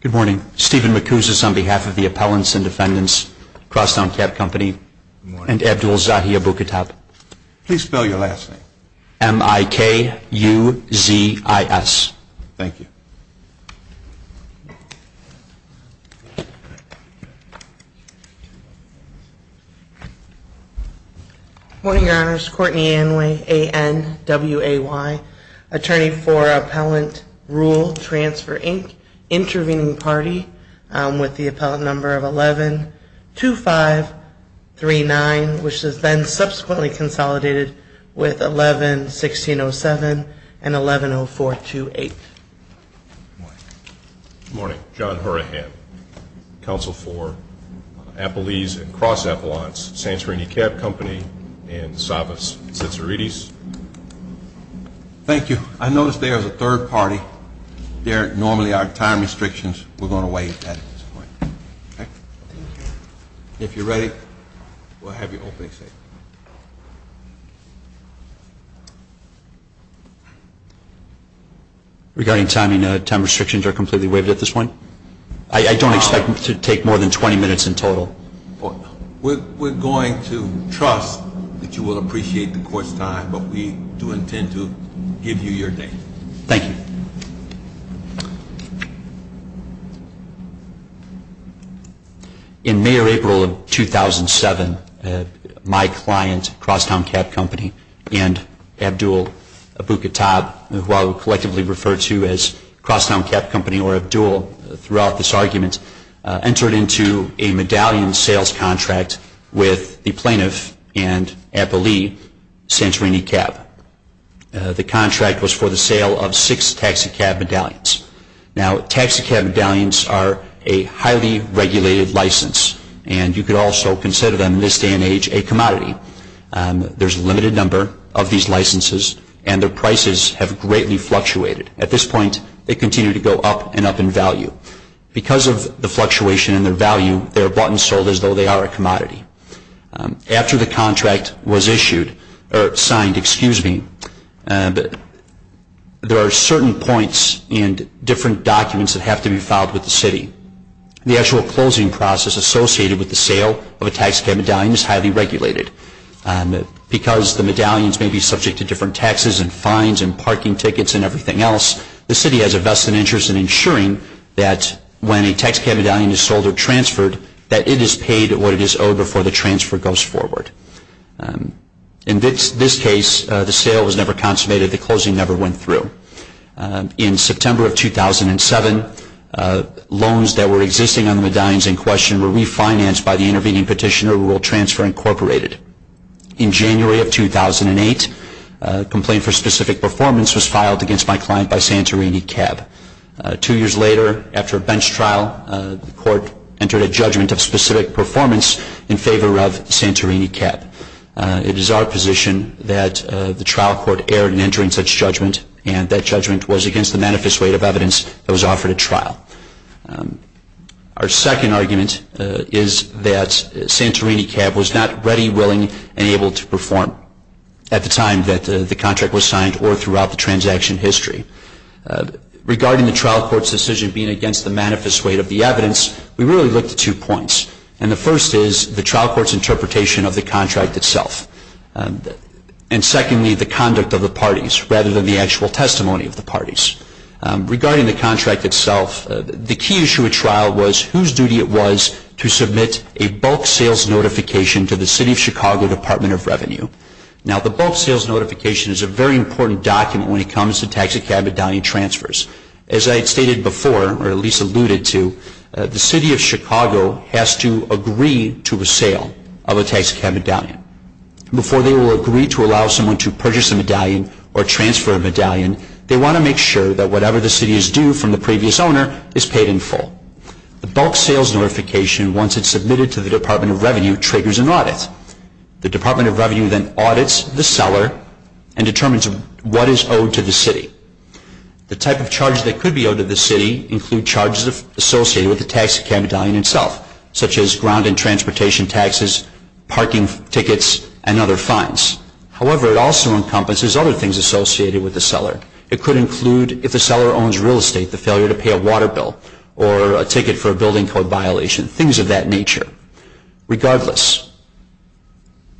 Good morning, Stephen McCousis on behalf of the Appellants and Defendants, Cross Town Cab Company and Abdul Zaheer Bukhatab. Please spell your last name. M-I-K-U-Z-I-S. Thank you. Good morning, your honors. Courtney Anway, A-N-W-A-Y, attorney for Appellant Rule Transfer, Inc., intervening party with the appellant number of 112539, which is then subsequently consolidated with 111607 and 110428. Good morning. Good morning. John Horahan, counsel for Appellees and Cross Appellants, Santorini Cab Company and Savas Cicerites. Thank you. I notice there is a third party there. Normally our time restrictions were going to wait at this point. Thank you. If you're ready, we'll have your opening statement. Regarding timing, time restrictions are completely waived at this point? I don't expect to take more than 20 minutes in total. We're going to trust that you will appreciate the court's time, but we do intend to give you your day. Thank you. In May or April of 2007, my client, Crosstown Cab Company, and Abdul Abuketab, who I will collectively refer to as Crosstown Cab Company or Abdul throughout this argument, entered into a medallion sales contract with the plaintiff and appellee, Santorini Cab. The contract was for the sale of six taxicab medallions. Now, taxicab medallions are a highly regulated license, and you could also consider them in this day and age a commodity. There's a limited number of these licenses, and their prices have greatly fluctuated. At this point, they continue to go up and up in value. Because of the fluctuation in their value, they're bought and sold as though they are a commodity. After the contract was issued or signed, there are certain points and different documents that have to be filed with the city. The actual closing process associated with the sale of a taxicab medallion is highly regulated. Because the medallions may be subject to different taxes and fines and parking tickets and everything else, the city has a vested interest in ensuring that when a taxicab medallion is sold or transferred, that it is paid what it is owed before the transfer goes forward. In this case, the sale was never consummated. The closing never went through. In September of 2007, loans that were existing on the medallions in question were refinanced by the intervening petitioner, Rural Transfer Incorporated. In January of 2008, a complaint for specific performance was filed against my client by Santorini Cab. Two years later, after a bench trial, the court entered a judgment of specific performance in favor of Santorini Cab. It is our position that the trial court erred in entering such judgment, and that judgment was against the manifest weight of evidence that was offered at trial. Our second argument is that Santorini Cab was not ready, willing, and able to perform at the time that the contract was signed or throughout the transaction history. Regarding the trial court's decision being against the manifest weight of the evidence, we really looked at two points, and the first is the trial court's interpretation of the contract itself, and secondly, the conduct of the parties rather than the actual testimony of the parties. Regarding the contract itself, the key issue at trial was whose duty it was to submit a bulk sales notification to the City of Chicago Department of Revenue. Now, the bulk sales notification is a very important document when it comes to taxicab medallion transfers. As I had stated before, or at least alluded to, the City of Chicago has to agree to a sale of a taxicab medallion. Before they will agree to allow someone to purchase a medallion or transfer a medallion, they want to make sure that whatever the City is due from the previous owner is paid in full. The bulk sales notification, once it's submitted to the Department of Revenue, triggers an audit. The Department of Revenue then audits the seller and determines what is owed to the City. The type of charge that could be owed to the City include charges associated with the taxicab medallion itself, such as ground and transportation taxes, parking tickets, and other fines. However, it also encompasses other things associated with the seller. It could include, if the seller owns real estate, the failure to pay a water bill, or a ticket for a building code violation, things of that nature. Regardless,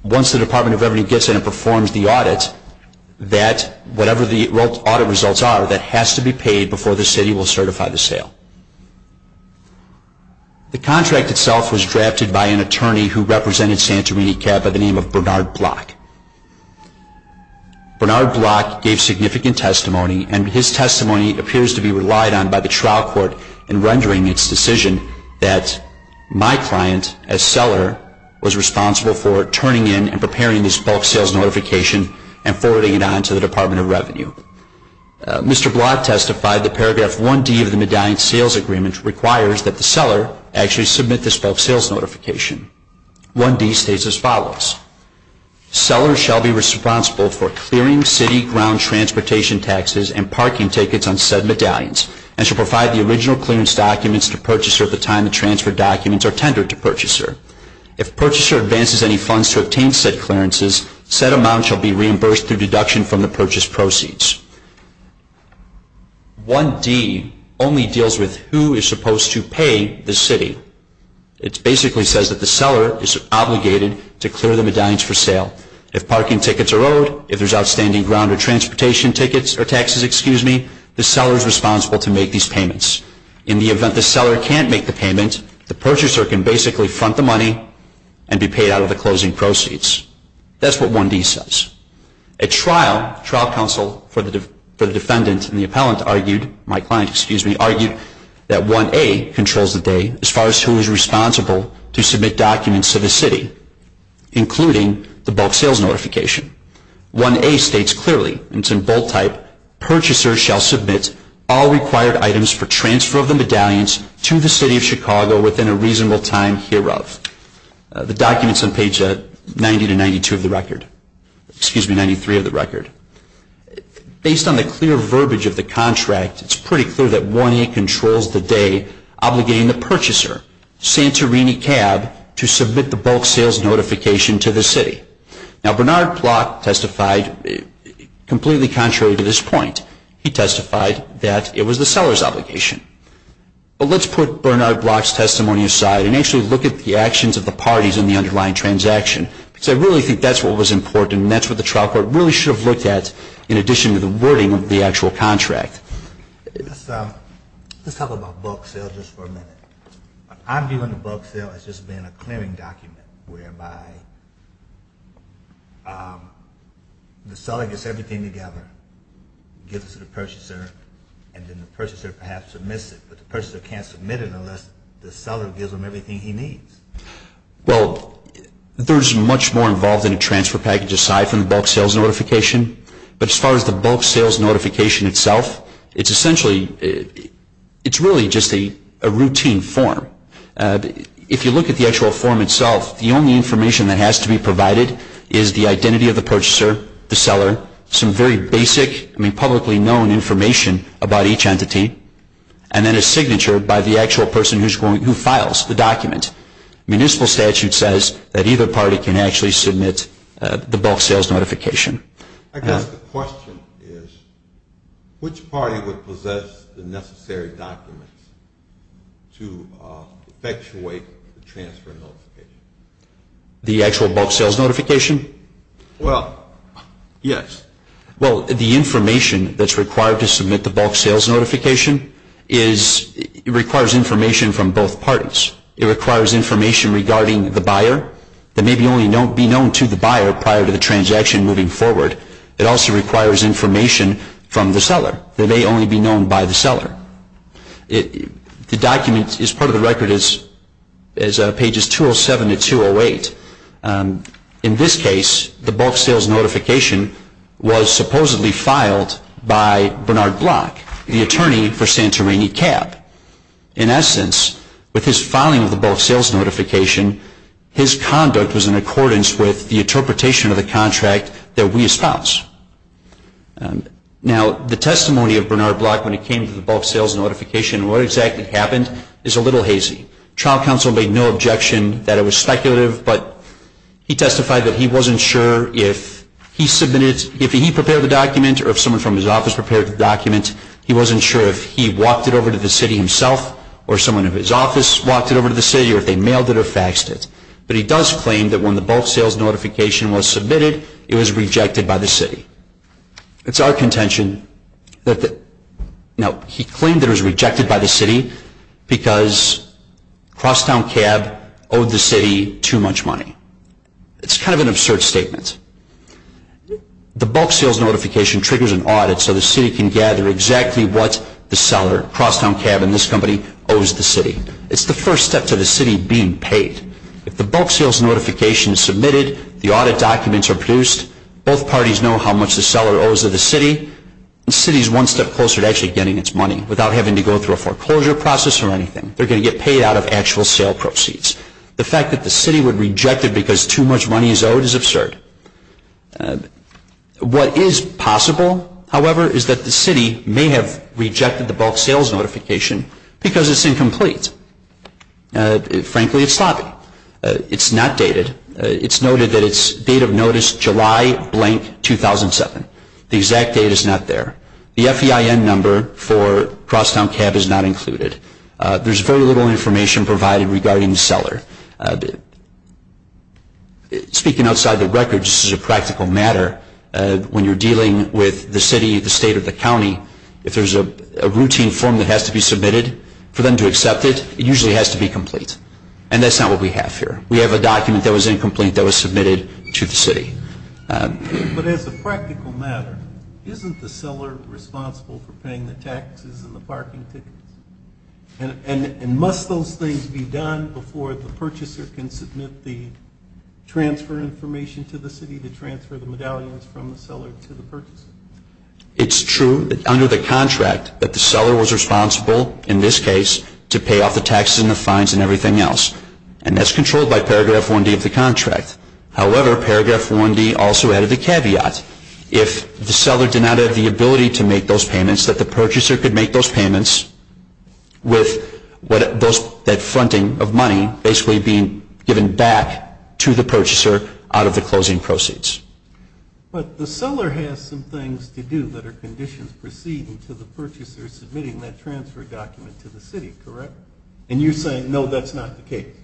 once the Department of Revenue gets in and performs the audit, whatever the audit results are, that has to be paid before the City will certify the sale. The contract itself was drafted by an attorney who represented Santorini Cab by the name of Bernard Block. Bernard Block gave significant testimony, and his testimony appears to be relied on by the trial court in rendering its decision that my client, as seller, was responsible for turning in and preparing this bulk sales notification and forwarding it on to the Department of Revenue. Mr. Block testified that paragraph 1D of the Medallion Sales Agreement requires that the seller actually submit this bulk sales notification. 1D states as follows. Seller shall be responsible for clearing city ground transportation taxes and parking tickets on said medallions, and shall provide the original clearance documents to purchaser at the time the transfer documents are tendered to purchaser. If purchaser advances any funds to obtain said clearances, said amount shall be reimbursed through deduction from the purchase proceeds. 1D only deals with who is supposed to pay the city. It basically says that the seller is obligated to clear the medallions for sale. If parking tickets are owed, if there's outstanding ground or transportation taxes, the seller is responsible to make these payments. In the event the seller can't make the payment, the purchaser can basically front the money and be paid out of the closing proceeds. That's what 1D says. At trial, trial counsel for the defendant and the appellant argued, my client, excuse me, argued that 1A controls the day as far as who is responsible to submit documents to the city, including the bulk sales notification. 1A states clearly, and it's in bold type, purchaser shall submit all required items for transfer of the medallions to the City of Chicago within a reasonable time hereof. The document's on page 90 to 92 of the record, excuse me, 93 of the record. Based on the clear verbiage of the contract, it's pretty clear that 1A controls the day obligating the purchaser, Santorini Cab, to submit the bulk sales notification to the city. Now Bernard Block testified completely contrary to this point. He testified that it was the seller's obligation. But let's put Bernard Block's testimony aside and actually look at the actions of the parties in the underlying transaction, because I really think that's what was important and that's what the trial court really should have looked at in addition to the wording of the actual contract. Let's talk about bulk sales just for a minute. I'm viewing the bulk sale as just being a clearing document whereby the seller gets everything together, gives it to the purchaser, and then the purchaser perhaps submits it. But the purchaser can't submit it unless the seller gives him everything he needs. Well, there's much more involved in a transfer package aside from the bulk sales notification. But as far as the bulk sales notification itself, it's essentially, it's really just a routine form. If you look at the actual form itself, the only information that has to be provided is the identity of the purchaser, the seller, some very basic, I mean publicly known information about each entity, and then a signature by the actual person who files the document. Municipal statute says that either party can actually submit the bulk sales notification. I guess the question is which party would possess the necessary documents to effectuate the transfer notification? The actual bulk sales notification? Well, yes. Well, the information that's required to submit the bulk sales notification requires information from both parties. It requires information regarding the buyer that may only be known to the buyer prior to the transaction moving forward. It also requires information from the seller that may only be known by the seller. The document is part of the record as pages 207 to 208. In this case, the bulk sales notification was supposedly filed by Bernard Block, the attorney for Santorini Cab. In essence, with his filing of the bulk sales notification, his conduct was in accordance with the interpretation of the contract that we espouse. Now, the testimony of Bernard Block when it came to the bulk sales notification and what exactly happened is a little hazy. The trial counsel made no objection that it was speculative, but he testified that he wasn't sure if he prepared the document or if someone from his office prepared the document. He wasn't sure if he walked it over to the city himself or someone from his office walked it over to the city or if they mailed it or faxed it. But he does claim that when the bulk sales notification was submitted, it was rejected by the city. It's our contention that the... Now, he claimed it was rejected by the city because Crosstown Cab owed the city too much money. It's kind of an absurd statement. The bulk sales notification triggers an audit so the city can gather exactly what the seller, Crosstown Cab and this company, owes the city. It's the first step to the city being paid. If the bulk sales notification is submitted, the audit documents are produced, both parties know how much the seller owes to the city, the city is one step closer to actually getting its money without having to go through a foreclosure process or anything. They're going to get paid out of actual sale proceeds. The fact that the city would reject it because too much money is owed is absurd. What is possible, however, is that the city may have rejected the bulk sales notification because it's incomplete. Frankly, it's sloppy. It's not dated. It's noted that it's date of notice July blank 2007. The exact date is not there. The FEIN number for Crosstown Cab is not included. There's very little information provided regarding the seller. Speaking outside the record, this is a practical matter. When you're dealing with the city, the state or the county, if there's a routine form that has to be submitted for them to accept it, it usually has to be complete. And that's not what we have here. We have a document that was incomplete that was submitted to the city. But as a practical matter, isn't the seller responsible for paying the taxes and the parking tickets? And must those things be done before the purchaser can submit the transfer information to the city to transfer the medallions from the seller to the purchaser? It's true that under the contract that the seller was responsible, in this case, to pay off the taxes and the fines and everything else. And that's controlled by Paragraph 1D of the contract. However, Paragraph 1D also added the caveat. If the seller did not have the ability to make those payments, that the purchaser could make those payments with that fronting of money basically being given back to the purchaser out of the closing proceeds. But the seller has some things to do that are conditions proceeding to the purchaser submitting that transfer document to the city, correct? And you're saying, no, that's not the case.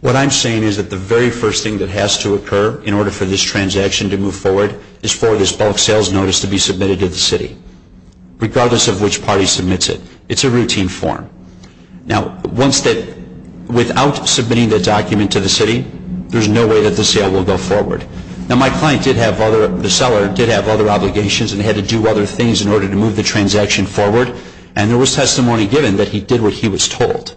What I'm saying is that the very first thing that has to occur in order for this transaction to move forward is for this bulk sales notice to be submitted to the city, regardless of which party submits it. It's a routine form. Now, once that, without submitting the document to the city, there's no way that the sale will go forward. Now, my client did have other, the seller did have other obligations and had to do other things in order to move the transaction forward. And there was testimony given that he did what he was told.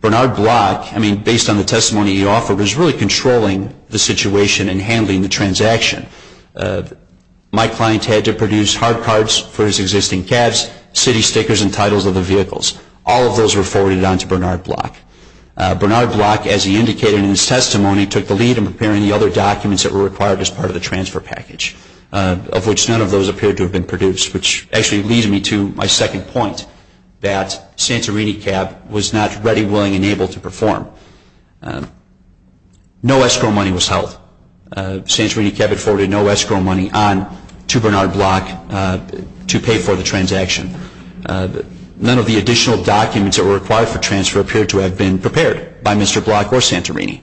Bernard Block, I mean, based on the testimony he offered, was really controlling the situation and handling the transaction. My client had to produce hard cards for his existing cabs, city stickers and titles of the vehicles. All of those were forwarded on to Bernard Block. Bernard Block, as he indicated in his testimony, took the lead in preparing the other documents that were required as part of the transfer package, of which none of those appeared to have been produced, which actually leads me to my second point, that Santorini Cab was not ready, willing and able to perform. No escrow money was held. Santorini Cab had forwarded no escrow money on to Bernard Block to pay for the transaction. None of the additional documents that were required for transfer appeared to have been prepared by Mr. Block or Santorini.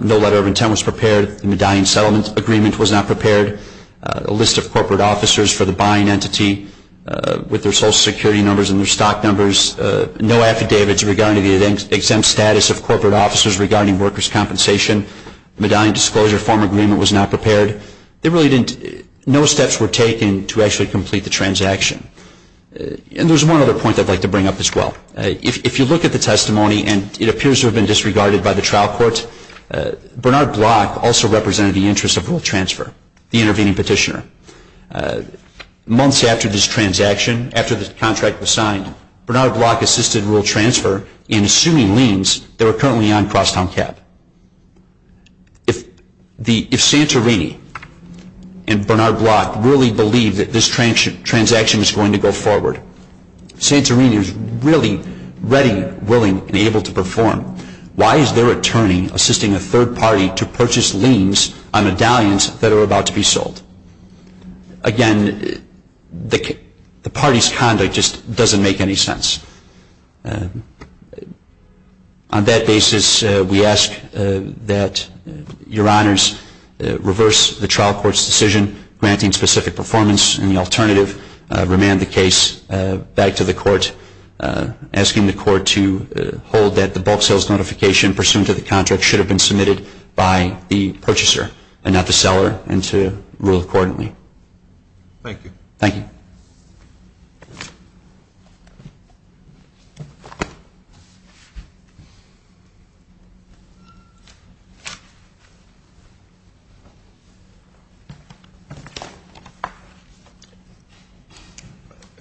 No letter of intent was prepared. The Medallion Settlement Agreement was not prepared. A list of corporate officers for the buying entity with their Social Security numbers and their stock numbers. No affidavits regarding the exempt status of corporate officers regarding workers' compensation. The Medallion Disclosure Form Agreement was not prepared. No steps were taken to actually complete the transaction. And there's one other point I'd like to bring up as well. If you look at the testimony, and it appears to have been disregarded by the trial court, Bernard Block also represented the interest of rule transfer, the intervening petitioner. Months after this transaction, after this contract was signed, Bernard Block assisted rule transfer in assuming liens that were currently on Crosstown Cab. If Santorini and Bernard Block really believe that this transaction is going to go forward, if Santorini is really ready, willing, and able to perform, why is their attorney assisting a third party to purchase liens on medallions that are about to be sold? Again, the party's conduct just doesn't make any sense. On that basis, we ask that Your Honors reverse the trial court's decision granting specific performance, and the alternative, remand the case back to the court, asking the court to hold that the bulk sales notification pursuant to the contract should have been submitted by the purchaser and not the seller, and to rule accordingly. Thank you. Thank you.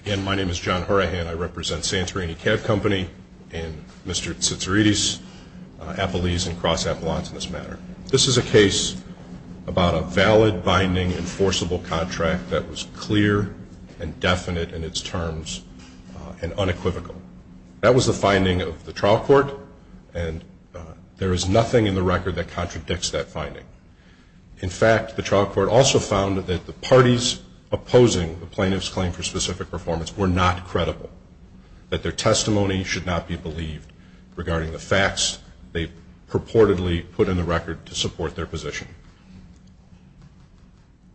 Again, my name is John Horahan. I represent Santorini Cab Company and Mr. Tsitsiridis, appellees and cross-appellants in this matter. This is a case about a valid, binding, enforceable contract that was clear and definite in its terms and unequivocal. That was the finding of the trial court, and there is nothing in the record that contradicts that finding. In fact, the trial court also found that the parties opposing the plaintiff's claim for specific performance were not credible, that their testimony should not be believed regarding the facts they purportedly put in the record to support their position.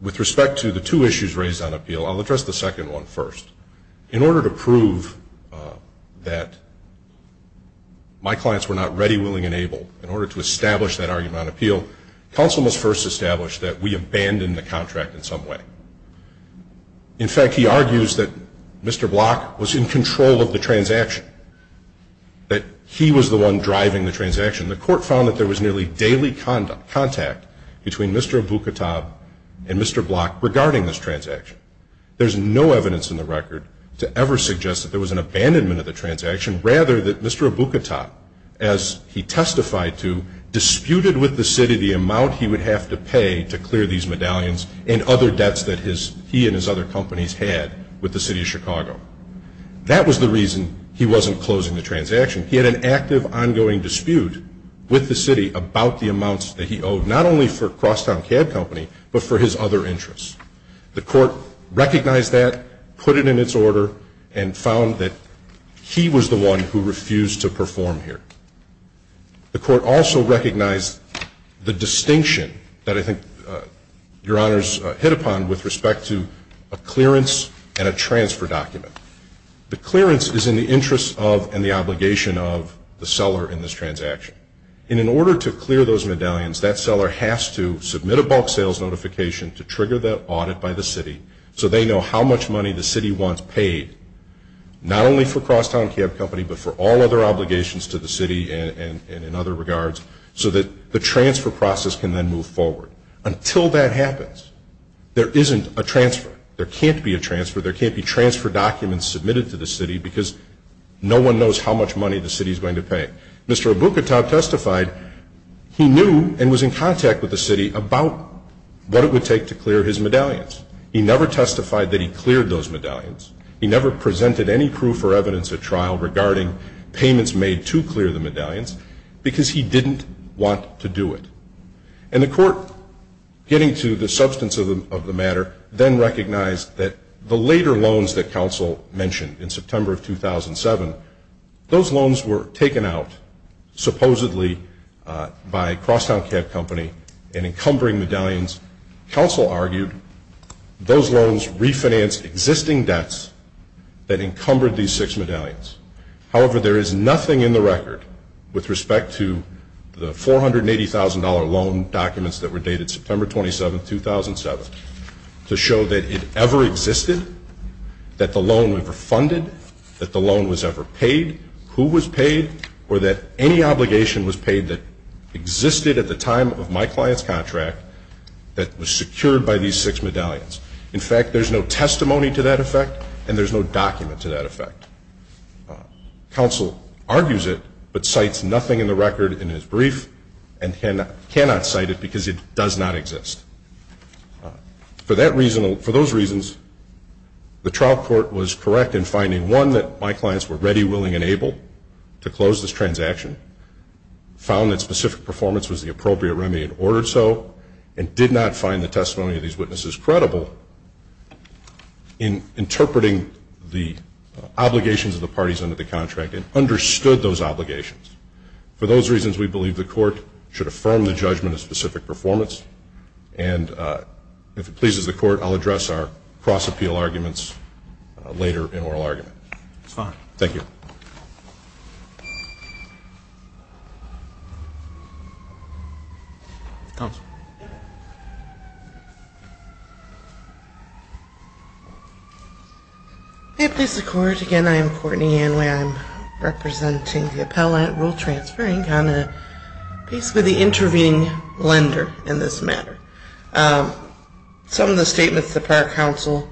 With respect to the two issues raised on appeal, I'll address the second one first. In order to prove that my clients were not ready, willing, and able, in order to establish that argument on appeal, counsel must first establish that we abandoned the contract in some way. In fact, he argues that Mr. Block was in control of the transaction, that he was the one driving the transaction. The court found that there was nearly daily contact between Mr. Aboukatab and Mr. Block regarding this transaction. There's no evidence in the record to ever suggest that there was an abandonment of the transaction, rather that Mr. Aboukatab, as he testified to, disputed with the city the amount he would have to pay to clear these medallions and other debts that he and his other companies had with the city of Chicago. That was the reason he wasn't closing the transaction. He had an active, ongoing dispute with the city about the amounts that he owed, not only for Crosstown Cab Company, but for his other interests. The court recognized that, put it in its order, and found that he was the one who refused to perform here. The court also recognized the distinction that I think Your Honors hit upon with respect to a clearance and a transfer document. The clearance is in the interest of and the obligation of the seller in this transaction. And in order to clear those medallions, that seller has to submit a bulk sales notification to trigger that audit by the city so they know how much money the city wants paid, not only for Crosstown Cab Company, but for all other obligations to the city and in other regards, so that the transfer process can then move forward. Until that happens, there isn't a transfer. There can't be a transfer. There can't be transfer documents submitted to the city because no one knows how much money the city is going to pay. Mr. Abuketow testified he knew and was in contact with the city about what it would take to clear his medallions. He never testified that he cleared those medallions. He never presented any proof or evidence at trial regarding payments made to clear the medallions because he didn't want to do it. And the court, getting to the substance of the matter, then recognized that the later loans that counsel mentioned in September of 2007, those loans were taken out supposedly by Crosstown Cab Company in encumbering medallions. Counsel argued those loans refinanced existing debts that encumbered these six medallions. However, there is nothing in the record with respect to the $480,000 loan documents that were dated September 27, 2007, to show that it ever existed, that the loan was refunded, that the loan was ever paid, who was paid, or that any obligation was paid that existed at the time of my client's contract that was secured by these six medallions. In fact, there's no testimony to that effect and there's no document to that effect. Counsel argues it but cites nothing in the record in his brief and cannot cite it because it does not exist. For that reason, for those reasons, the trial court was correct in finding, one, that my clients were ready, willing, and able to close this transaction, found that specific performance was the appropriate remedy and ordered so, and did not find the testimony of these witnesses credible in interpreting the obligations of the parties under the contract and understood those obligations. For those reasons, we believe the court should affirm the judgment of specific performance and if it pleases the court, I'll address our cross-appeal arguments later in oral argument. It's fine. Thank you. Counsel. If it pleases the court, again, I am Courtney Anway. I'm representing the Appellate Rule Transfer Inc. on basically the intervening lender in this matter. Some of the statements that our counsel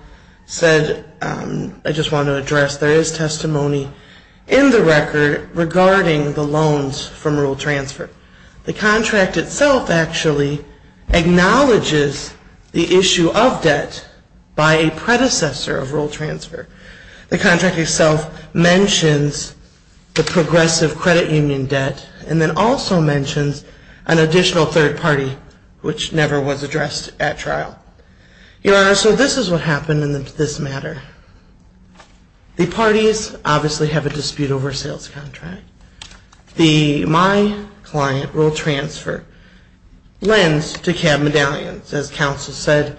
said I just want to address, there is testimony in the record regarding the loans from rule transfer. The contract itself actually acknowledges the issue of debt by a predecessor of rule transfer. The contract itself mentions the progressive credit union debt and then also mentions an additional third party, which never was addressed at trial. Your Honor, so this is what happened in this matter. The parties obviously have a dispute over a sales contract. My client, rule transfer, lends to cab medallions. As counsel said,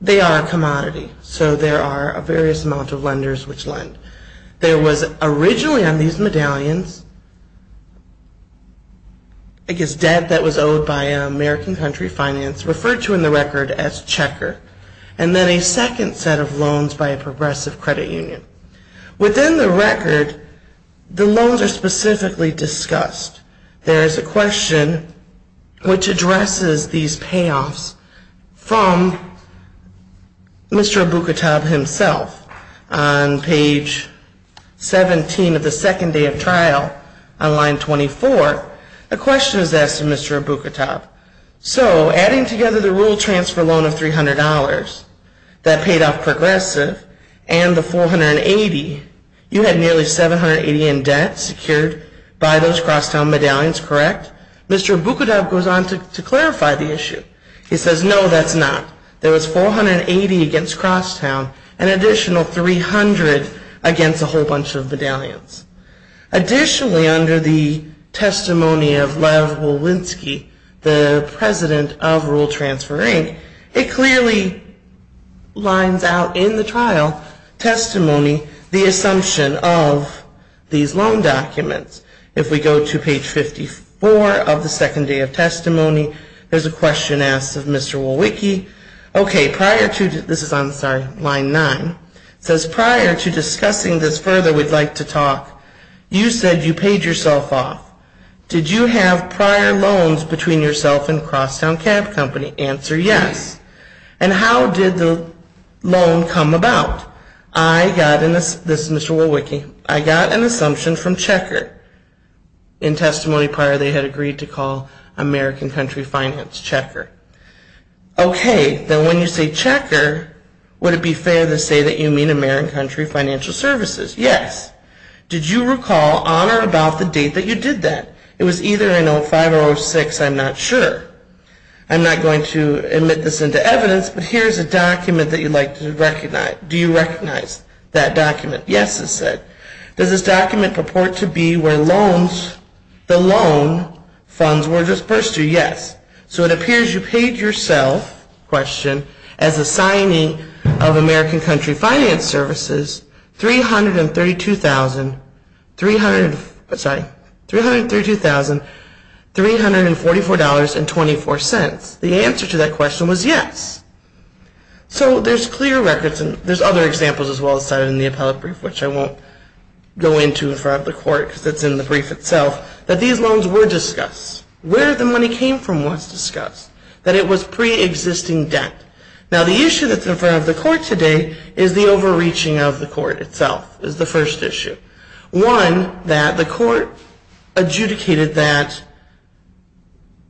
they are a commodity, so there are a various amount of lenders which lend. There was originally on these medallions, I guess, debt that was owed by an American country finance, referred to in the record as checker, and then a second set of loans by a progressive credit union. Within the record, the loans are specifically discussed. There is a question which addresses these payoffs from Mr. Abukatab himself. On page 17 of the second day of trial, on line 24, a question is asked of Mr. Abukatab. So adding together the rule transfer loan of $300 that paid off progressive and the $480, you had nearly $780 in debt secured by those Crosstown medallions, correct? Mr. Abukatab goes on to clarify the issue. He says, no, that's not. There was $480 against Crosstown, an additional $300 against a whole bunch of medallions. Additionally, under the testimony of Lev Wolinsky, the president of Rule Transfer, Inc., it clearly lines out in the trial testimony the assumption of these loan documents. If we go to page 54 of the second day of testimony, there's a question asked of Mr. Wolinsky. Okay, this is on line 9. It says, prior to discussing this further, we'd like to talk. You said you paid yourself off. Did you have prior loans between yourself and Crosstown Cab Company? Answer, yes. And how did the loan come about? I got an assumption from Checker. In testimony prior, they had agreed to call American Country Finance Checker. Okay, then when you say Checker, would it be fair to say that you mean American Country Financial Services? Yes. Did you recall on or about the date that you did that? It was either in 05 or 06, I'm not sure. I'm not going to admit this into evidence, but here's a document that you'd like to recognize. Do you recognize that document? Yes, it said. Does this document purport to be where the loan funds were disbursed to you? Yes. So it appears you paid yourself, question, as a signee of American Country Finance Services $332,344.24. The answer to that question was yes. So there's clear records, and there's other examples as well as cited in the appellate brief, which I won't go into in front of the court because it's in the brief itself, that these loans were discussed. Where the money came from was discussed, that it was preexisting debt. Now, the issue that's in front of the court today is the overreaching of the court itself is the first issue. One, that the court adjudicated that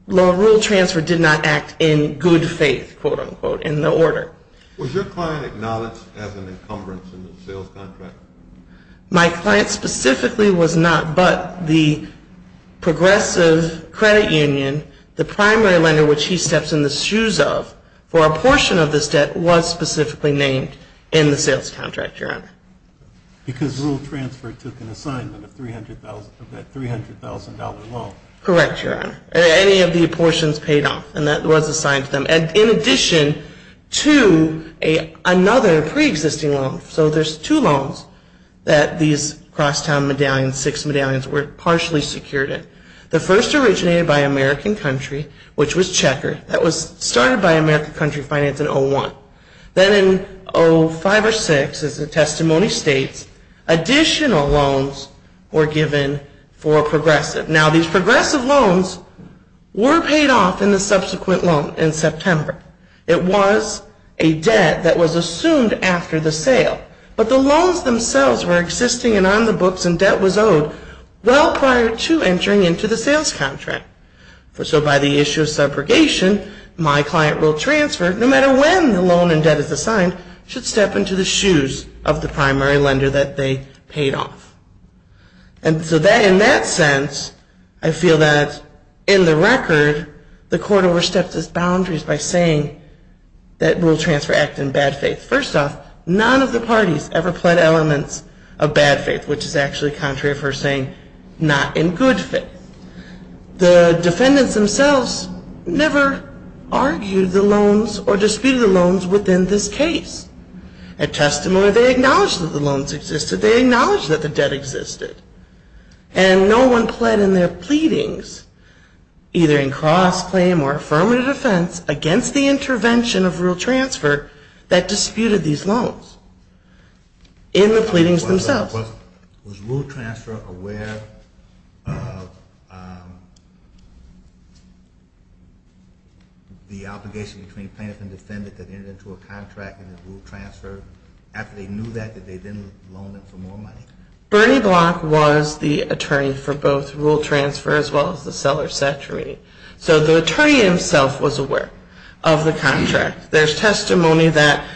loan rule transfer did not act in good faith, quote, unquote, in the order. Was your client acknowledged as an encumbrance in the sales contract? My client specifically was not, but the progressive credit union, the primary lender which he steps in the shoes of for a portion of this debt, was specifically named in the sales contract, Your Honor. Because rule transfer took an assignment of that $300,000 loan. Correct, Your Honor. Any of the apportions paid off, and that was assigned to them. In addition to another preexisting loan. So there's two loans that these Crosstown medallions, six medallions, were partially secured in. The first originated by American Country, which was Checker. That was started by American Country Finance in 01. Then in 05 or 06, as the testimony states, additional loans were given for progressive. Now these progressive loans were paid off in the subsequent loan in September. It was a debt that was assumed after the sale. But the loans themselves were existing and on the books and debt was owed well prior to entering into the sales contract. So by the issue of subrogation, my client rule transfer, no matter when the loan and debt is assigned, should step into the shoes of the primary lender that they paid off. And so in that sense, I feel that in the record, the court overstepped its boundaries by saying that rule transfer acted in bad faith. First off, none of the parties ever pled elements of bad faith, which is actually contrary for saying not in good faith. The defendants themselves never argued the loans or disputed the loans within this case. At testimony, they acknowledged that the loans existed. They acknowledged that the debt existed. And no one pled in their pleadings, either in cross-claim or affirmative defense, against the intervention of rule transfer that disputed these loans in the pleadings themselves. Was rule transfer aware of the obligation between plaintiff and defendant that entered into a contract and then rule transfer, after they knew that, that they didn't loan them for more money? Bernie Block was the attorney for both rule transfer as well as the seller-setter meeting. So the attorney himself was aware of the contract. There's testimony that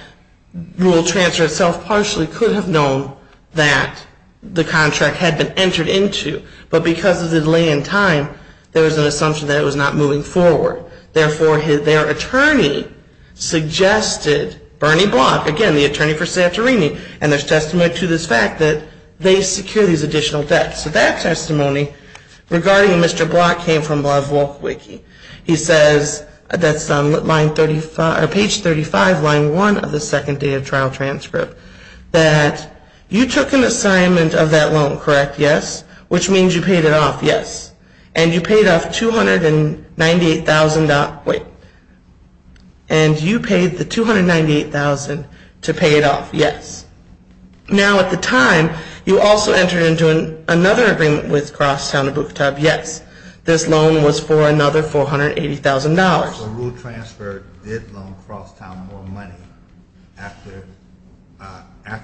rule transfer itself partially could have known that the contract had been entered into, but because of the delay in time, there was an assumption that it was not moving forward. Therefore, their attorney suggested, Bernie Block, again, the attorney for Santorini, and there's testimony to this fact that they secure these additional debts. So that testimony regarding Mr. Block came from Love Wolf Wiki. He says, that's on page 35, line 1 of the second date of trial transcript, that you took an assignment of that loan, correct? Yes. Which means you paid it off? Yes. And you paid off $298,000. Wait. And you paid the $298,000 to pay it off? Yes. Now, at the time, you also entered into another agreement with Crosstown and Bucatub. Yes. This loan was for another $480,000. So rule transfer did loan Crosstown more money after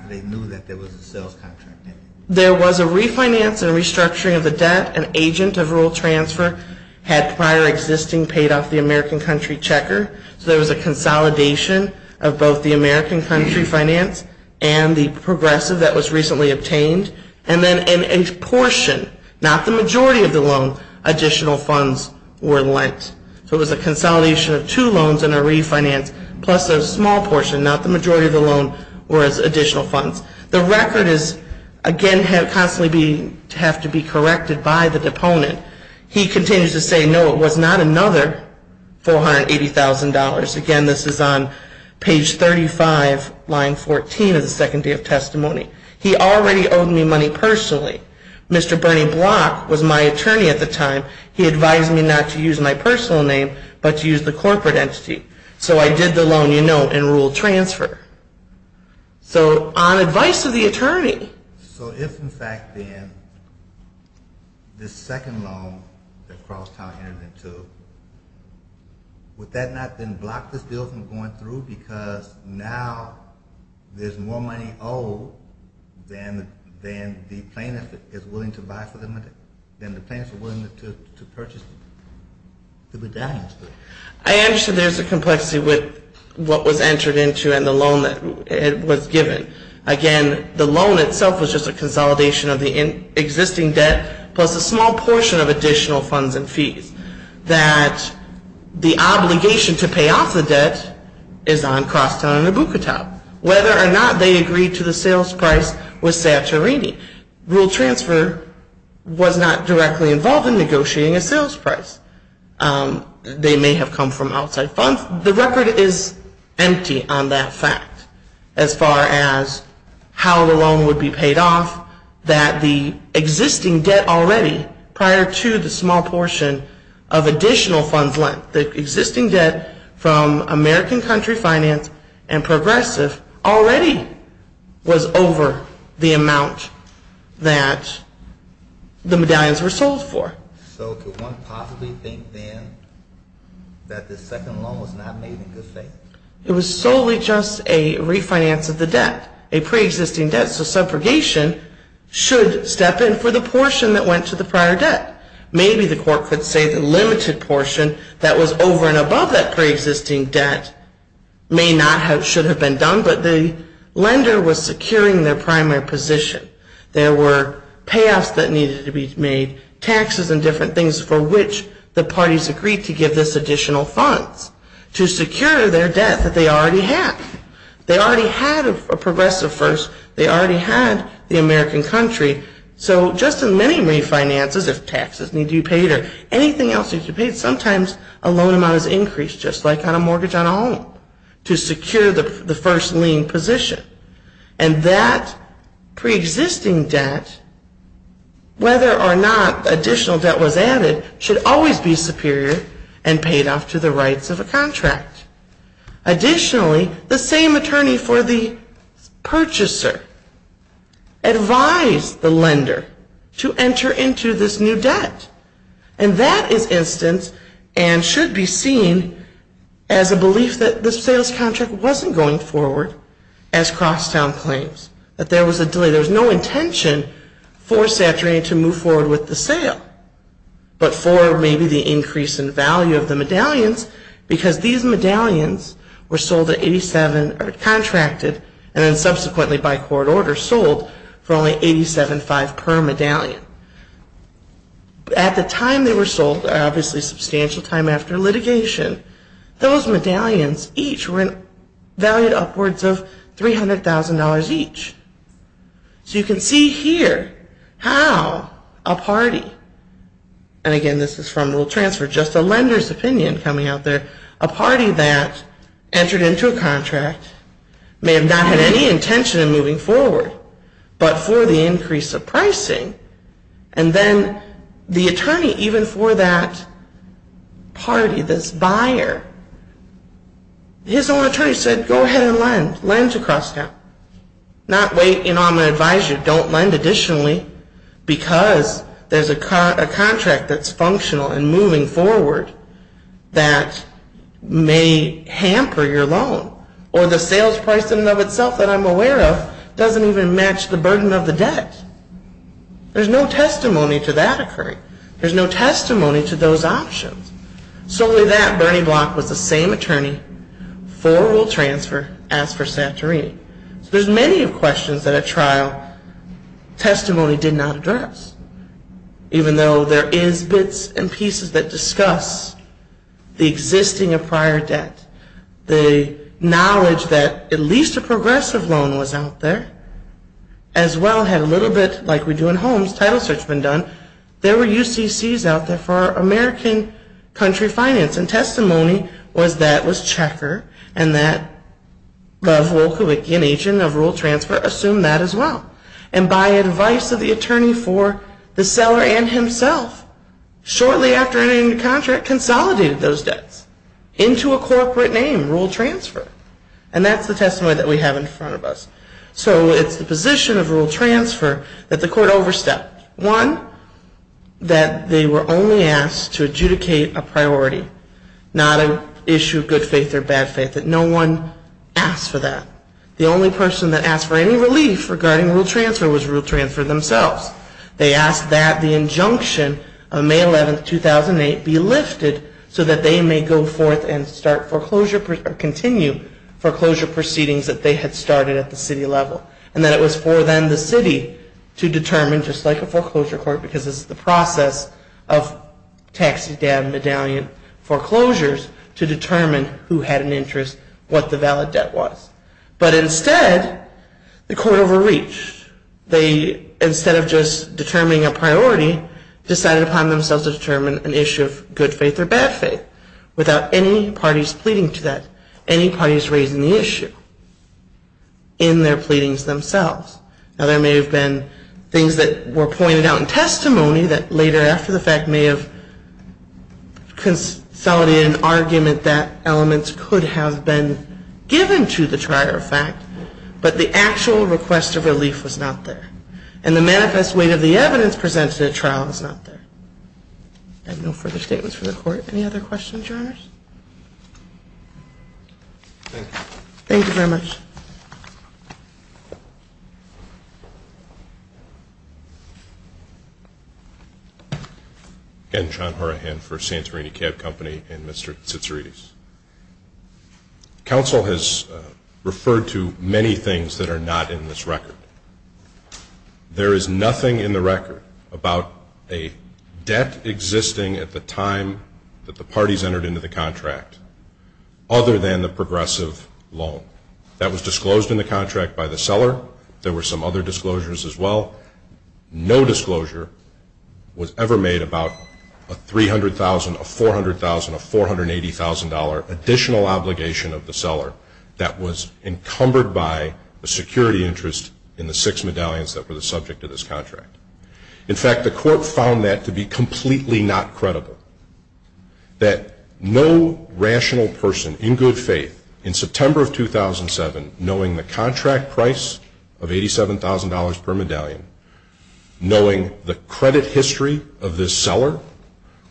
they knew that there was a sales contract in it? There was a refinance and restructuring of the debt. An agent of rule transfer had prior existing paid off the American Country Checker. So there was a consolidation of both the American Country Finance and the progressive that was recently obtained. And then in a portion, not the majority of the loan, additional funds were lent. So it was a consolidation of two loans and a refinance, plus a small portion, not the majority of the loan, whereas additional funds. The record is, again, constantly have to be corrected by the deponent. He continues to say, no, it was not another $480,000. Again, this is on page 35, line 14 of the second day of testimony. He already owed me money personally. Mr. Bernie Block was my attorney at the time. He advised me not to use my personal name but to use the corporate entity. So I did the loan, you know, in rule transfer. So on advice of the attorney. So if, in fact, then this second loan that Crosstown entered into, would that not then block this deal from going through? Because now there's more money owed than the plaintiff is willing to buy for the money, than the plaintiff is willing to purchase the bedallions for. I understand there's a complexity with what was entered into and the loan that was given. Again, the loan itself was just a consolidation of the existing debt, plus a small portion of additional funds and fees. That the obligation to pay off the debt is on Crosstown and Abucatow. Whether or not they agreed to the sales price was satirating. Rule transfer was not directly involved in negotiating a sales price. They may have come from outside funds. The record is empty on that fact as far as how the loan would be paid off. That the existing debt already, prior to the small portion of additional funds lent, the existing debt from American Country Finance and Progressive already was over the amount that the bedallions were sold for. So could one possibly think then that the second loan was not made in good faith? It was solely just a refinance of the debt, a pre-existing debt. So subrogation should step in for the portion that went to the prior debt. Maybe the court could say the limited portion that was over and above that pre-existing debt may not have, should have been done, but the lender was securing their primary position. There were payoffs that needed to be made. Taxes and different things for which the parties agreed to give this additional funds to secure their debt that they already had. They already had a progressive first. They already had the American Country. So just as many refinances, if taxes need to be paid or anything else needs to be paid, sometimes a loan amount is increased just like on a mortgage on a home to secure the first lien position. And that pre-existing debt, whether or not additional debt was added, should always be superior and paid off to the rights of a contract. Additionally, the same attorney for the purchaser advised the lender to enter into this new debt. And that is instance and should be seen as a belief that this sales contract wasn't going forward as Crosstown claims, that there was a delay. There was no intention for Saturday to move forward with the sale, but for maybe the increase in value of the medallions, because these medallions were sold at 87 or contracted and then subsequently by court order sold for only 87.5 per medallion. At the time they were sold, obviously a substantial time after litigation, those medallions each were valued upwards of $300,000 each. So you can see here how a party, and again this is from a little transfer, just a lender's opinion coming out there, a party that entered into a contract may have not had any intention of moving forward, but for the increase of pricing, and then the attorney even for that party, this buyer, his own attorney said, go ahead and lend, lend to Crosstown. Not wait, I'm going to advise you, don't lend additionally, because there's a contract that's functional and moving forward that may hamper your loan. Or the sales price in and of itself that I'm aware of doesn't even match the burden of the debt. There's no testimony to that occurring. There's no testimony to those options. So with that, Bernie Block was the same attorney for rule transfer as for Santorini. There's many questions that a trial testimony did not address, even though there is bits and pieces that discuss the existing of prior debt, the knowledge that at least a progressive loan was out there, as well had a little bit, like we do in homes, title search has been done, there were UCCs out there for American country finance, and testimony was that was Checker, and that of Wolkovicki, an agent of rule transfer, assumed that as well. And by advice of the attorney for the seller and himself, shortly after entering the contract, consolidated those debts into a corporate name, rule transfer. And that's the testimony that we have in front of us. So it's the position of rule transfer that the court overstepped. One, that they were only asked to adjudicate a priority, not an issue of good faith or bad faith, that no one asked for that. The only person that asked for any relief regarding rule transfer was rule transfer themselves. They asked that the injunction of May 11, 2008, be lifted, so that they may go forth and continue foreclosure proceedings that they had started at the city level. And that it was for then the city to determine, just like a foreclosure court, because this is the process of taxidermy medallion foreclosures, to determine who had an interest, what the valid debt was. But instead, the court overreached. They, instead of just determining a priority, decided upon themselves to determine an issue of good faith or bad faith, without any parties pleading to that, any parties raising the issue in their pleadings themselves. Now there may have been things that were pointed out in testimony that later after the fact may have consolidated an argument that elements could have been given to the trier of fact, but the actual request of relief was not there. And the manifest weight of the evidence presented at trial was not there. I have no further statements from the court. Any other questions, Your Honors? Thank you. Thank you very much. Again, John Horahan for Santorini Cab Company and Mr. Tsitsiridis. Counsel has referred to many things that are not in this record. There is nothing in the record about a debt existing at the time that the parties entered into the contract, other than the progressive loan. That was disclosed in the contract by the seller. There were some other disclosures as well. No disclosure was ever made about a $300,000, a $400,000, a $480,000 additional obligation of the seller that was encumbered by a security interest in the six medallions that were the subject of this contract. In fact, the court found that to be completely not credible, that no rational person in good faith in September of 2007, knowing the contract price of $87,000 per medallion, knowing the credit history of this seller,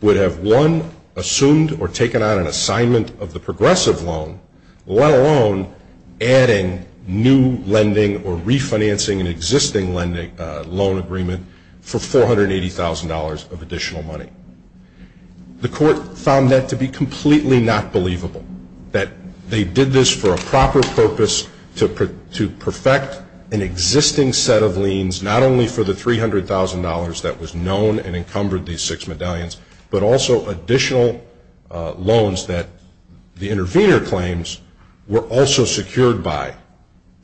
would have won, assumed, or taken on an assignment of the progressive loan, let alone adding new lending or refinancing an existing loan agreement for $480,000 of additional money. The court found that to be completely not believable, that they did this for a proper purpose to perfect an existing set of liens, not only for the $300,000 that was known and encumbered these six medallions, but also additional loans that the intervener claims were also secured by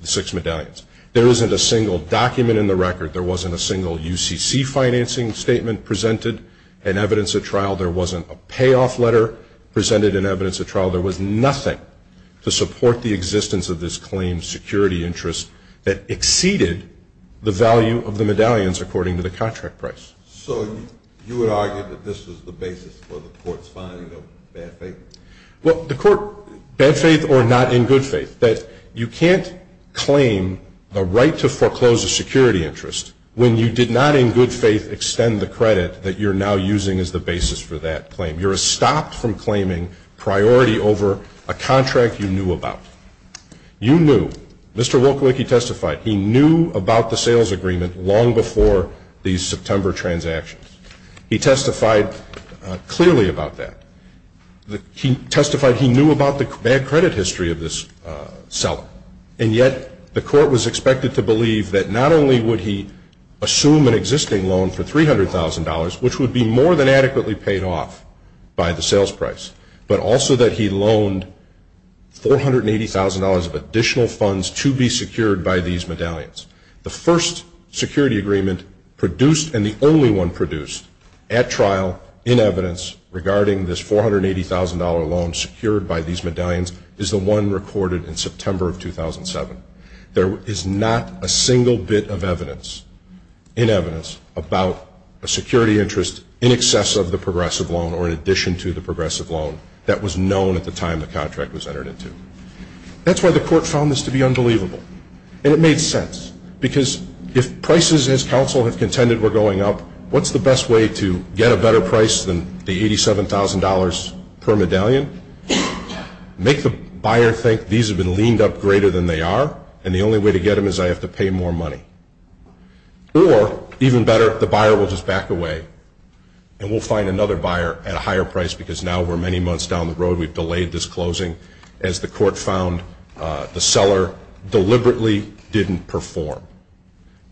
the six medallions. There isn't a single document in the record. There wasn't a single UCC financing statement presented in evidence at trial. There wasn't a payoff letter presented in evidence at trial. There was nothing to support the existence of this claim security interest that exceeded the value of the medallions according to the contract price. So you would argue that this was the basis for the court's finding of bad faith? Well, the court, bad faith or not in good faith, that you can't claim the right to foreclose a security interest when you did not in good faith extend the credit that you're now using as the basis for that claim. You're stopped from claiming priority over a contract you knew about. You knew. Mr. Wolkowicki testified he knew about the sales agreement long before these September transactions. He testified clearly about that. He testified he knew about the bad credit history of this seller, and yet the court was expected to believe that not only would he assume an existing loan for $300,000, which would be more than adequately paid off by the sales price, but also that he loaned $480,000 of additional funds to be secured by these medallions. The first security agreement produced and the only one produced at trial in evidence regarding this $480,000 loan secured by these medallions is the one recorded in September of 2007. There is not a single bit of evidence in evidence about a security interest in excess of the progressive loan or in addition to the progressive loan that was known at the time the contract was entered into. That's why the court found this to be unbelievable, and it made sense, because if prices as counsel have contended were going up, what's the best way to get a better price than the $87,000 per medallion? Make the buyer think these have been leaned up greater than they are, and the only way to get them is I have to pay more money. Or, even better, the buyer will just back away, and we'll find another buyer at a higher price, because now we're many months down the road. We've delayed this closing. As the court found, the seller deliberately didn't perform,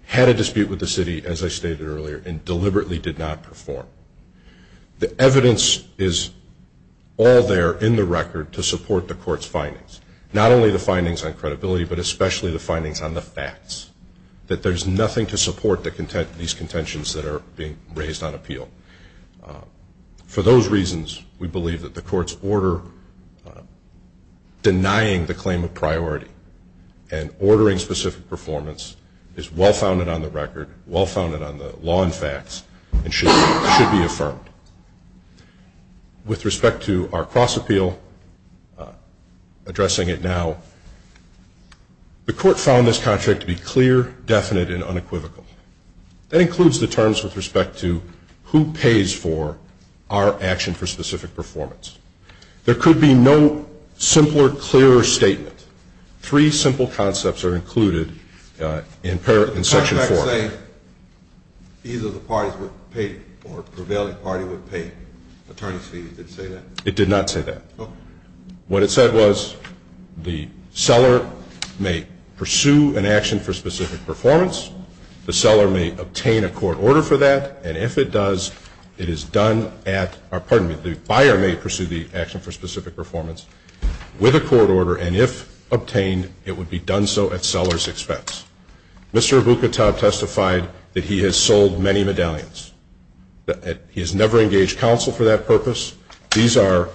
had a dispute with the city, as I stated earlier, and deliberately did not perform. The evidence is all there in the record to support the court's findings, not only the findings on credibility but especially the findings on the facts, that there's nothing to support these contentions that are being raised on appeal. For those reasons, we believe that the court's order denying the claim of priority and ordering specific performance is well-founded on the record, well-founded on the law and facts, and should be affirmed. With respect to our cross-appeal, addressing it now, the court found this contract to be clear, definite, and unequivocal. That includes the terms with respect to who pays for our action for specific performance. There could be no simpler, clearer statement. Three simple concepts are included in Section 4. You're saying either the parties would pay or a prevailing party would pay attorney's fees. Did it say that? It did not say that. What it said was the seller may pursue an action for specific performance. The seller may obtain a court order for that. And if it does, it is done at or, pardon me, the buyer may pursue the action for specific performance with a court order. And if obtained, it would be done so at seller's expense. Mr. Aboukatab testified that he has sold many medallions. He has never engaged counsel for that purpose. These are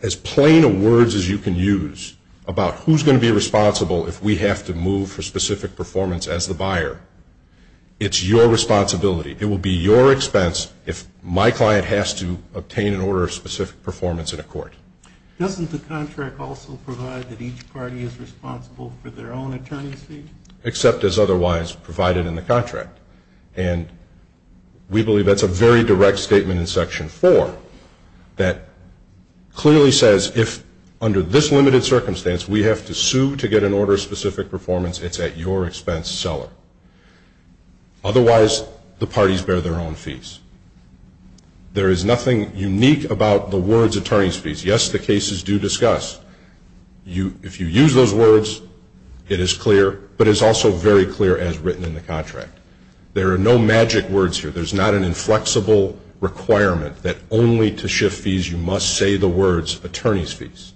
as plain a words as you can use about who's going to be responsible if we have to move for specific performance as the buyer. It's your responsibility. It will be your expense if my client has to obtain an order of specific performance in a court. Doesn't the contract also provide that each party is responsible for their own attorney's fees? Except as otherwise provided in the contract. And we believe that's a very direct statement in Section 4 that clearly says if under this limited circumstance we have to sue to get an order of specific performance, it's at your expense, seller. Otherwise, the parties bear their own fees. There is nothing unique about the words attorney's fees. Yes, the cases do discuss. If you use those words, it is clear, but it's also very clear as written in the contract. There are no magic words here. There's not an inflexible requirement that only to shift fees you must say the words attorney's fees.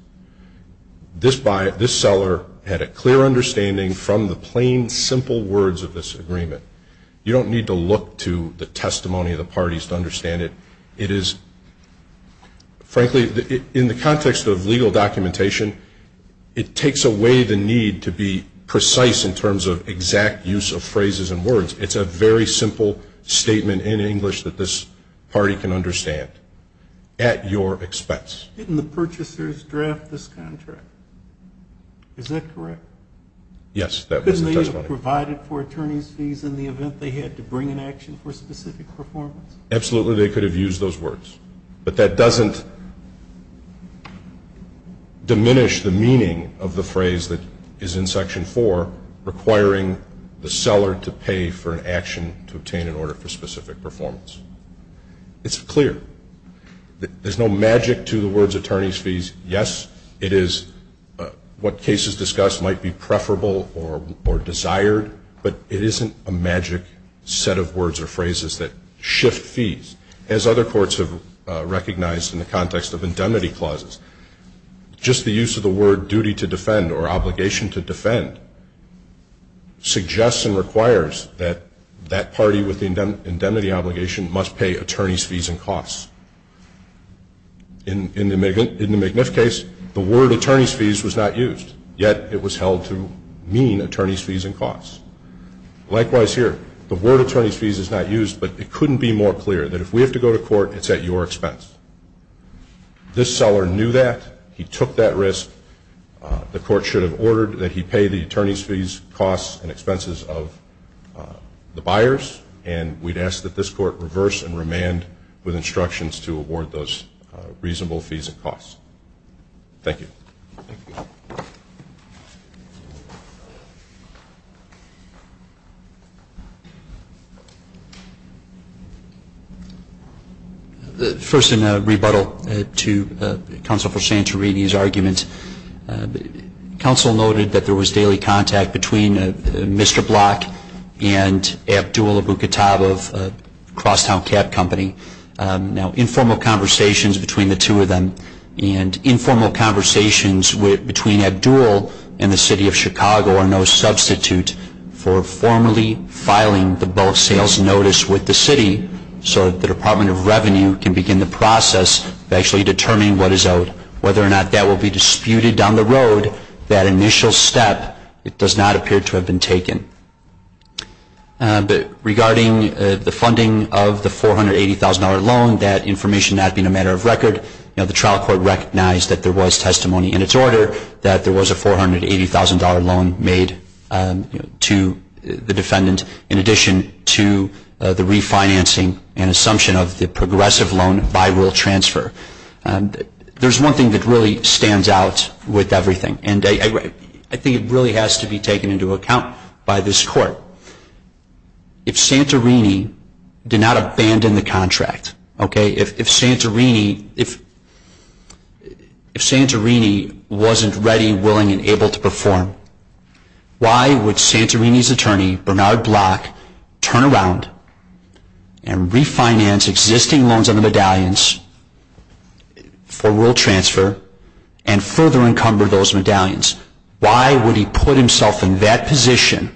This seller had a clear understanding from the plain, simple words of this agreement. You don't need to look to the testimony of the parties to understand it. It is, frankly, in the context of legal documentation, it takes away the need to be precise in terms of exact use of phrases and words. It's a very simple statement in English that this party can understand. At your expense. Didn't the purchasers draft this contract? Is that correct? Yes, that was the testimony. Couldn't they have provided for attorney's fees in the event they had to bring an action for specific performance? Absolutely, they could have used those words. But that doesn't diminish the meaning of the phrase that is in Section 4, requiring the seller to pay for an action to obtain an order for specific performance. It's clear. There's no magic to the words attorney's fees. Yes, it is what cases discuss might be preferable or desired, but it isn't a magic set of words or phrases that shift fees. As other courts have recognized in the context of indemnity clauses, just the use of the word duty to defend or obligation to defend suggests and requires that that party with the indemnity obligation must pay attorney's fees and costs. In the McNiff case, the word attorney's fees was not used, yet it was held to mean attorney's fees and costs. Likewise here, the word attorney's fees is not used, but it couldn't be more clear that if we have to go to court, it's at your expense. This seller knew that. He took that risk. The court should have ordered that he pay the attorney's fees, costs, and expenses of the buyers, and we'd ask that this court reverse and remand with instructions to award those reasonable fees and costs. Thank you. First, in a rebuttal to counsel for Santorini's argument, counsel noted that there was daily contact between Mr. Block and Abdul Abuketab of Crosstown Cab Company. Now, informal conversations between the two of them and informal conversations between Abdul and the city of Chicago are no substitute for formally filing the bulk sales notice with the city so that the Department of Revenue can begin the process of actually determining what is owed. Whether or not that will be disputed down the road, that initial step, it does not appear to have been taken. But regarding the funding of the $480,000 loan, that information not being a matter of record, the trial court recognized that there was testimony in its order that there was a $480,000 loan made to the defendant in addition to the refinancing and assumption of the progressive loan by rule transfer. There's one thing that really stands out with everything, and I think it really has to be taken into account by this court. If Santorini did not abandon the contract, okay, if Santorini wasn't ready, willing, and able to perform, why would Santorini's attorney, Bernard Block, turn around and refinance existing loans on the medallions for rule transfer and further encumber those medallions? Why would he put himself in that position?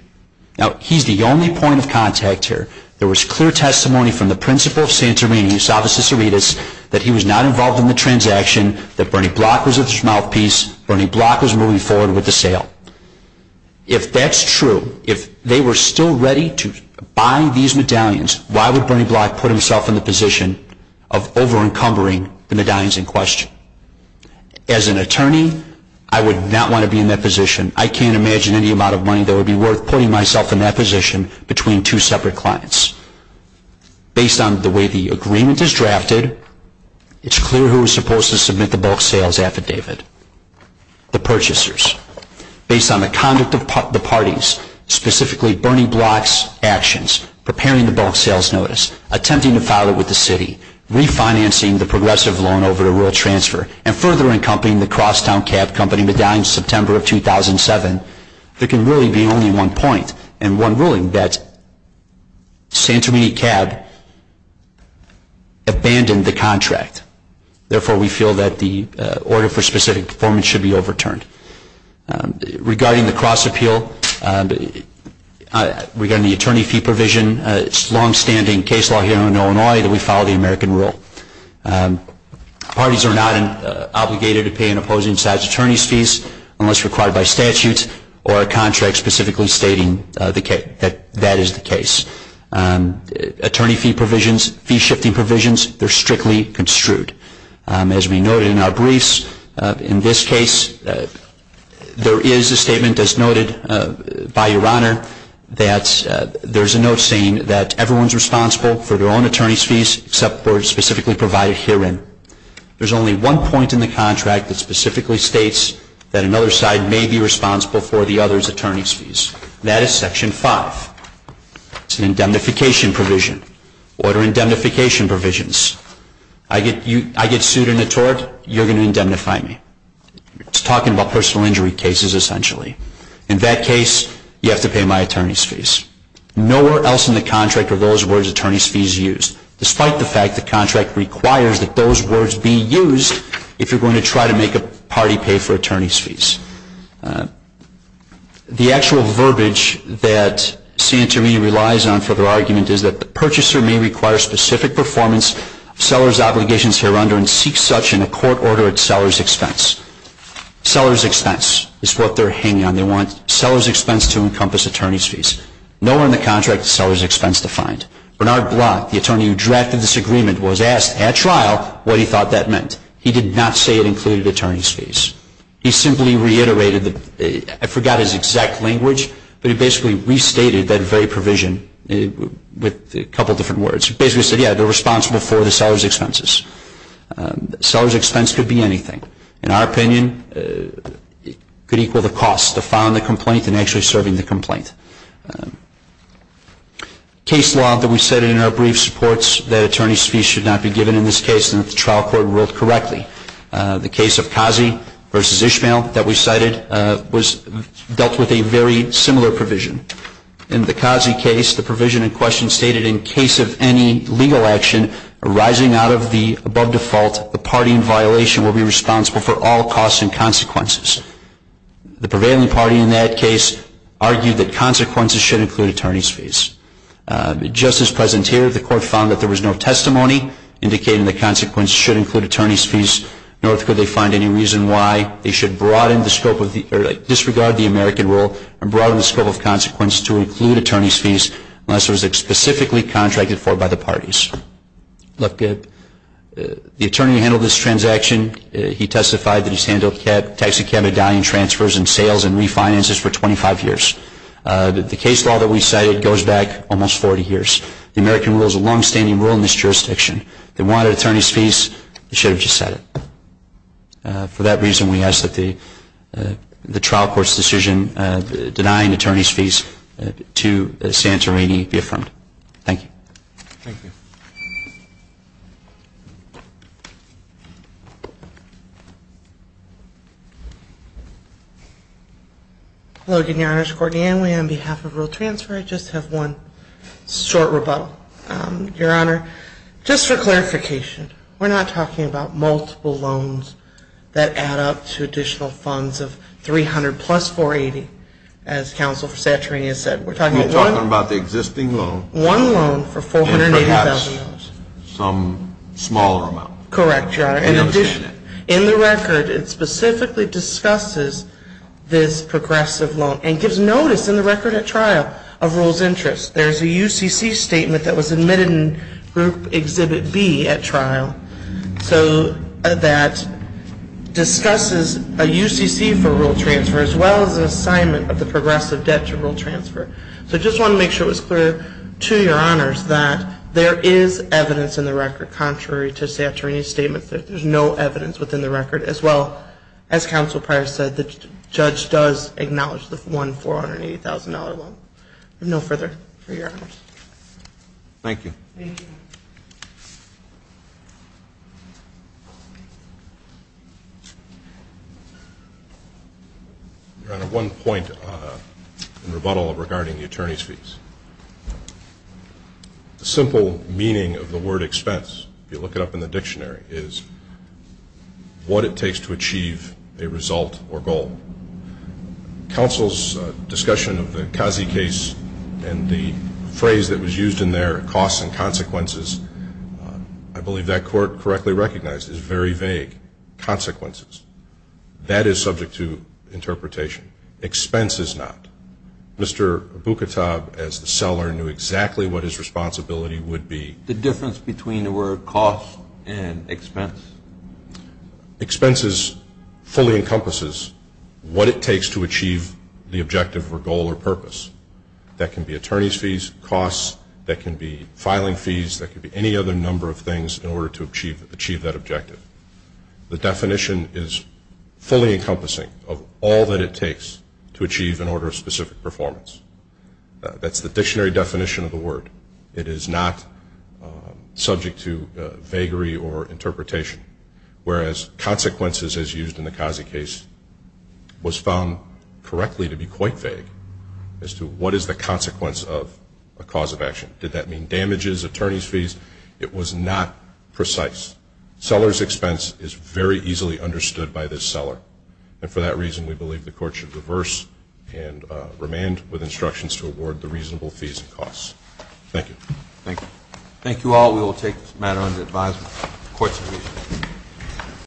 Now, he's the only point of contact here. There was clear testimony from the principal of Santorini, Eusebio Ciceritas, that he was not involved in the transaction, that Bernie Block was at his mouthpiece, Bernie Block was moving forward with the sale. If that's true, if they were still ready to buy these medallions, why would Bernie Block put himself in the position of over-encumbering the medallions in question? As an attorney, I would not want to be in that position. I can't imagine any amount of money that would be worth putting myself in that position between two separate clients. Based on the way the agreement is drafted, it's clear who is supposed to submit the bulk sales affidavit, the purchasers. Based on the conduct of the parties, specifically Bernie Block's actions, preparing the bulk sales notice, attempting to file it with the city, refinancing the progressive loan over the rural transfer, and further encompassing the Crosstown Cab Company medallion in September of 2007, there can really be only one point and one ruling that Santorini Cab abandoned the contract. Therefore, we feel that the order for specific performance should be overturned. Regarding the cross-appeal, regarding the attorney fee provision, it's long-standing case law here in Illinois that we follow the American rule. Parties are not obligated to pay an opposing side's attorney's fees unless required by statutes or a contract specifically stating that that is the case. Attorney fee provisions, fee-shifting provisions, they're strictly construed. As we noted in our briefs, in this case, there is a statement as noted by Your Honor that there's a note saying that everyone's responsible for their own attorney's fees except for specifically provided herein. There's only one point in the contract that specifically states that another side may be responsible for the other's attorney's fees. That is Section 5. It's an indemnification provision, order indemnification provisions. I get sued in a tort, you're going to indemnify me. It's talking about personal injury cases essentially. In that case, you have to pay my attorney's fees. Nowhere else in the contract are those words attorney's fees used, despite the fact the contract requires that those words be used if you're going to try to make a party pay for attorney's fees. The actual verbiage that Santorini relies on for their argument is that the purchaser may require specific performance, seller's obligations hereunder, and seek such in a court order at seller's expense. Seller's expense is what they're hanging on. They want seller's expense to encompass attorney's fees. Nowhere in the contract is seller's expense defined. Bernard Blatt, the attorney who drafted this agreement, was asked at trial what he thought that meant. He did not say it included attorney's fees. He simply reiterated, I forgot his exact language, but he basically restated that very provision with a couple different words. He basically said, yeah, they're responsible for the seller's expenses. Seller's expense could be anything. In our opinion, it could equal the cost of filing the complaint and actually serving the complaint. Case law that we cited in our brief supports that attorney's fees should not be given in this case and that the trial court ruled correctly. The case of Kazi versus Ishmael that we cited dealt with a very similar provision. In the Kazi case, the provision in question stated, in case of any legal action arising out of the above default, the party in violation will be responsible for all costs and consequences. The prevailing party in that case argued that consequences should include attorney's fees. Just as present here, the court found that there was no testimony indicating that consequences should include attorney's fees, nor could they find any reason why they should disregard the American rule and broaden the scope of consequences to include attorney's fees unless it was specifically contracted for by the parties. Look, the attorney who handled this transaction, he testified that he's handled taxicab medallion transfers and sales and refinances for 25 years. The case law that we cited goes back almost 40 years. The American rule is a longstanding rule in this jurisdiction. They wanted attorney's fees. They should have just said it. For that reason, we ask that the trial court's decision denying attorney's fees to Santorini be affirmed. Thank you. Thank you. Hello again, Your Honors. Courtney Anway on behalf of Rule Transfer. I just have one short rebuttal. Your Honor, just for clarification, we're not talking about multiple loans that add up to additional funds of $300 plus $480, as counsel for Santorini has said. We're talking about one. You're talking about the existing loan. And perhaps some small loan. Correct, Your Honor. In the record, it specifically discusses this progressive loan and gives notice in the record at trial of rules interest. There's a UCC statement that was admitted in Group Exhibit B at trial that discusses a UCC for rule transfer as well as an assignment of the progressive debt to rule transfer. So I just want to make sure it was clear to Your Honors that there is evidence in the record, contrary to Santorini's statement, that there's no evidence within the record. As well, as counsel prior said, the judge does acknowledge the one $480,000 loan. No further for Your Honors. Thank you. Thank you. Your Honor, one point in rebuttal regarding the attorney's fees. The simple meaning of the word expense, if you look it up in the dictionary, is what it takes to achieve a result or goal. Counsel's discussion of the Kazi case and the phrase that was used in there, costs and consequences, I believe that court correctly recognized is very vague. Consequences. That is subject to interpretation. Expense is not. Mr. Bukitab, as the seller, knew exactly what his responsibility would be. The difference between the word cost and expense. Expenses fully encompasses what it takes to achieve the objective or goal or purpose. That can be attorney's fees, costs. That can be filing fees. That can be any other number of things in order to achieve that objective. The definition is fully encompassing of all that it takes to achieve an order of specific performance. That's the dictionary definition of the word. It is not subject to vagary or interpretation. Whereas consequences, as used in the Kazi case, was found correctly to be quite vague as to what is the consequence of a cause of action. Did that mean damages, attorney's fees? It was not precise. Seller's expense is very easily understood by this seller. And for that reason, we believe the court should reverse and remain with instructions to award the reasonable fees and costs. Thank you. Thank you. Thank you all. We will take this matter under advisement. Court is adjourned.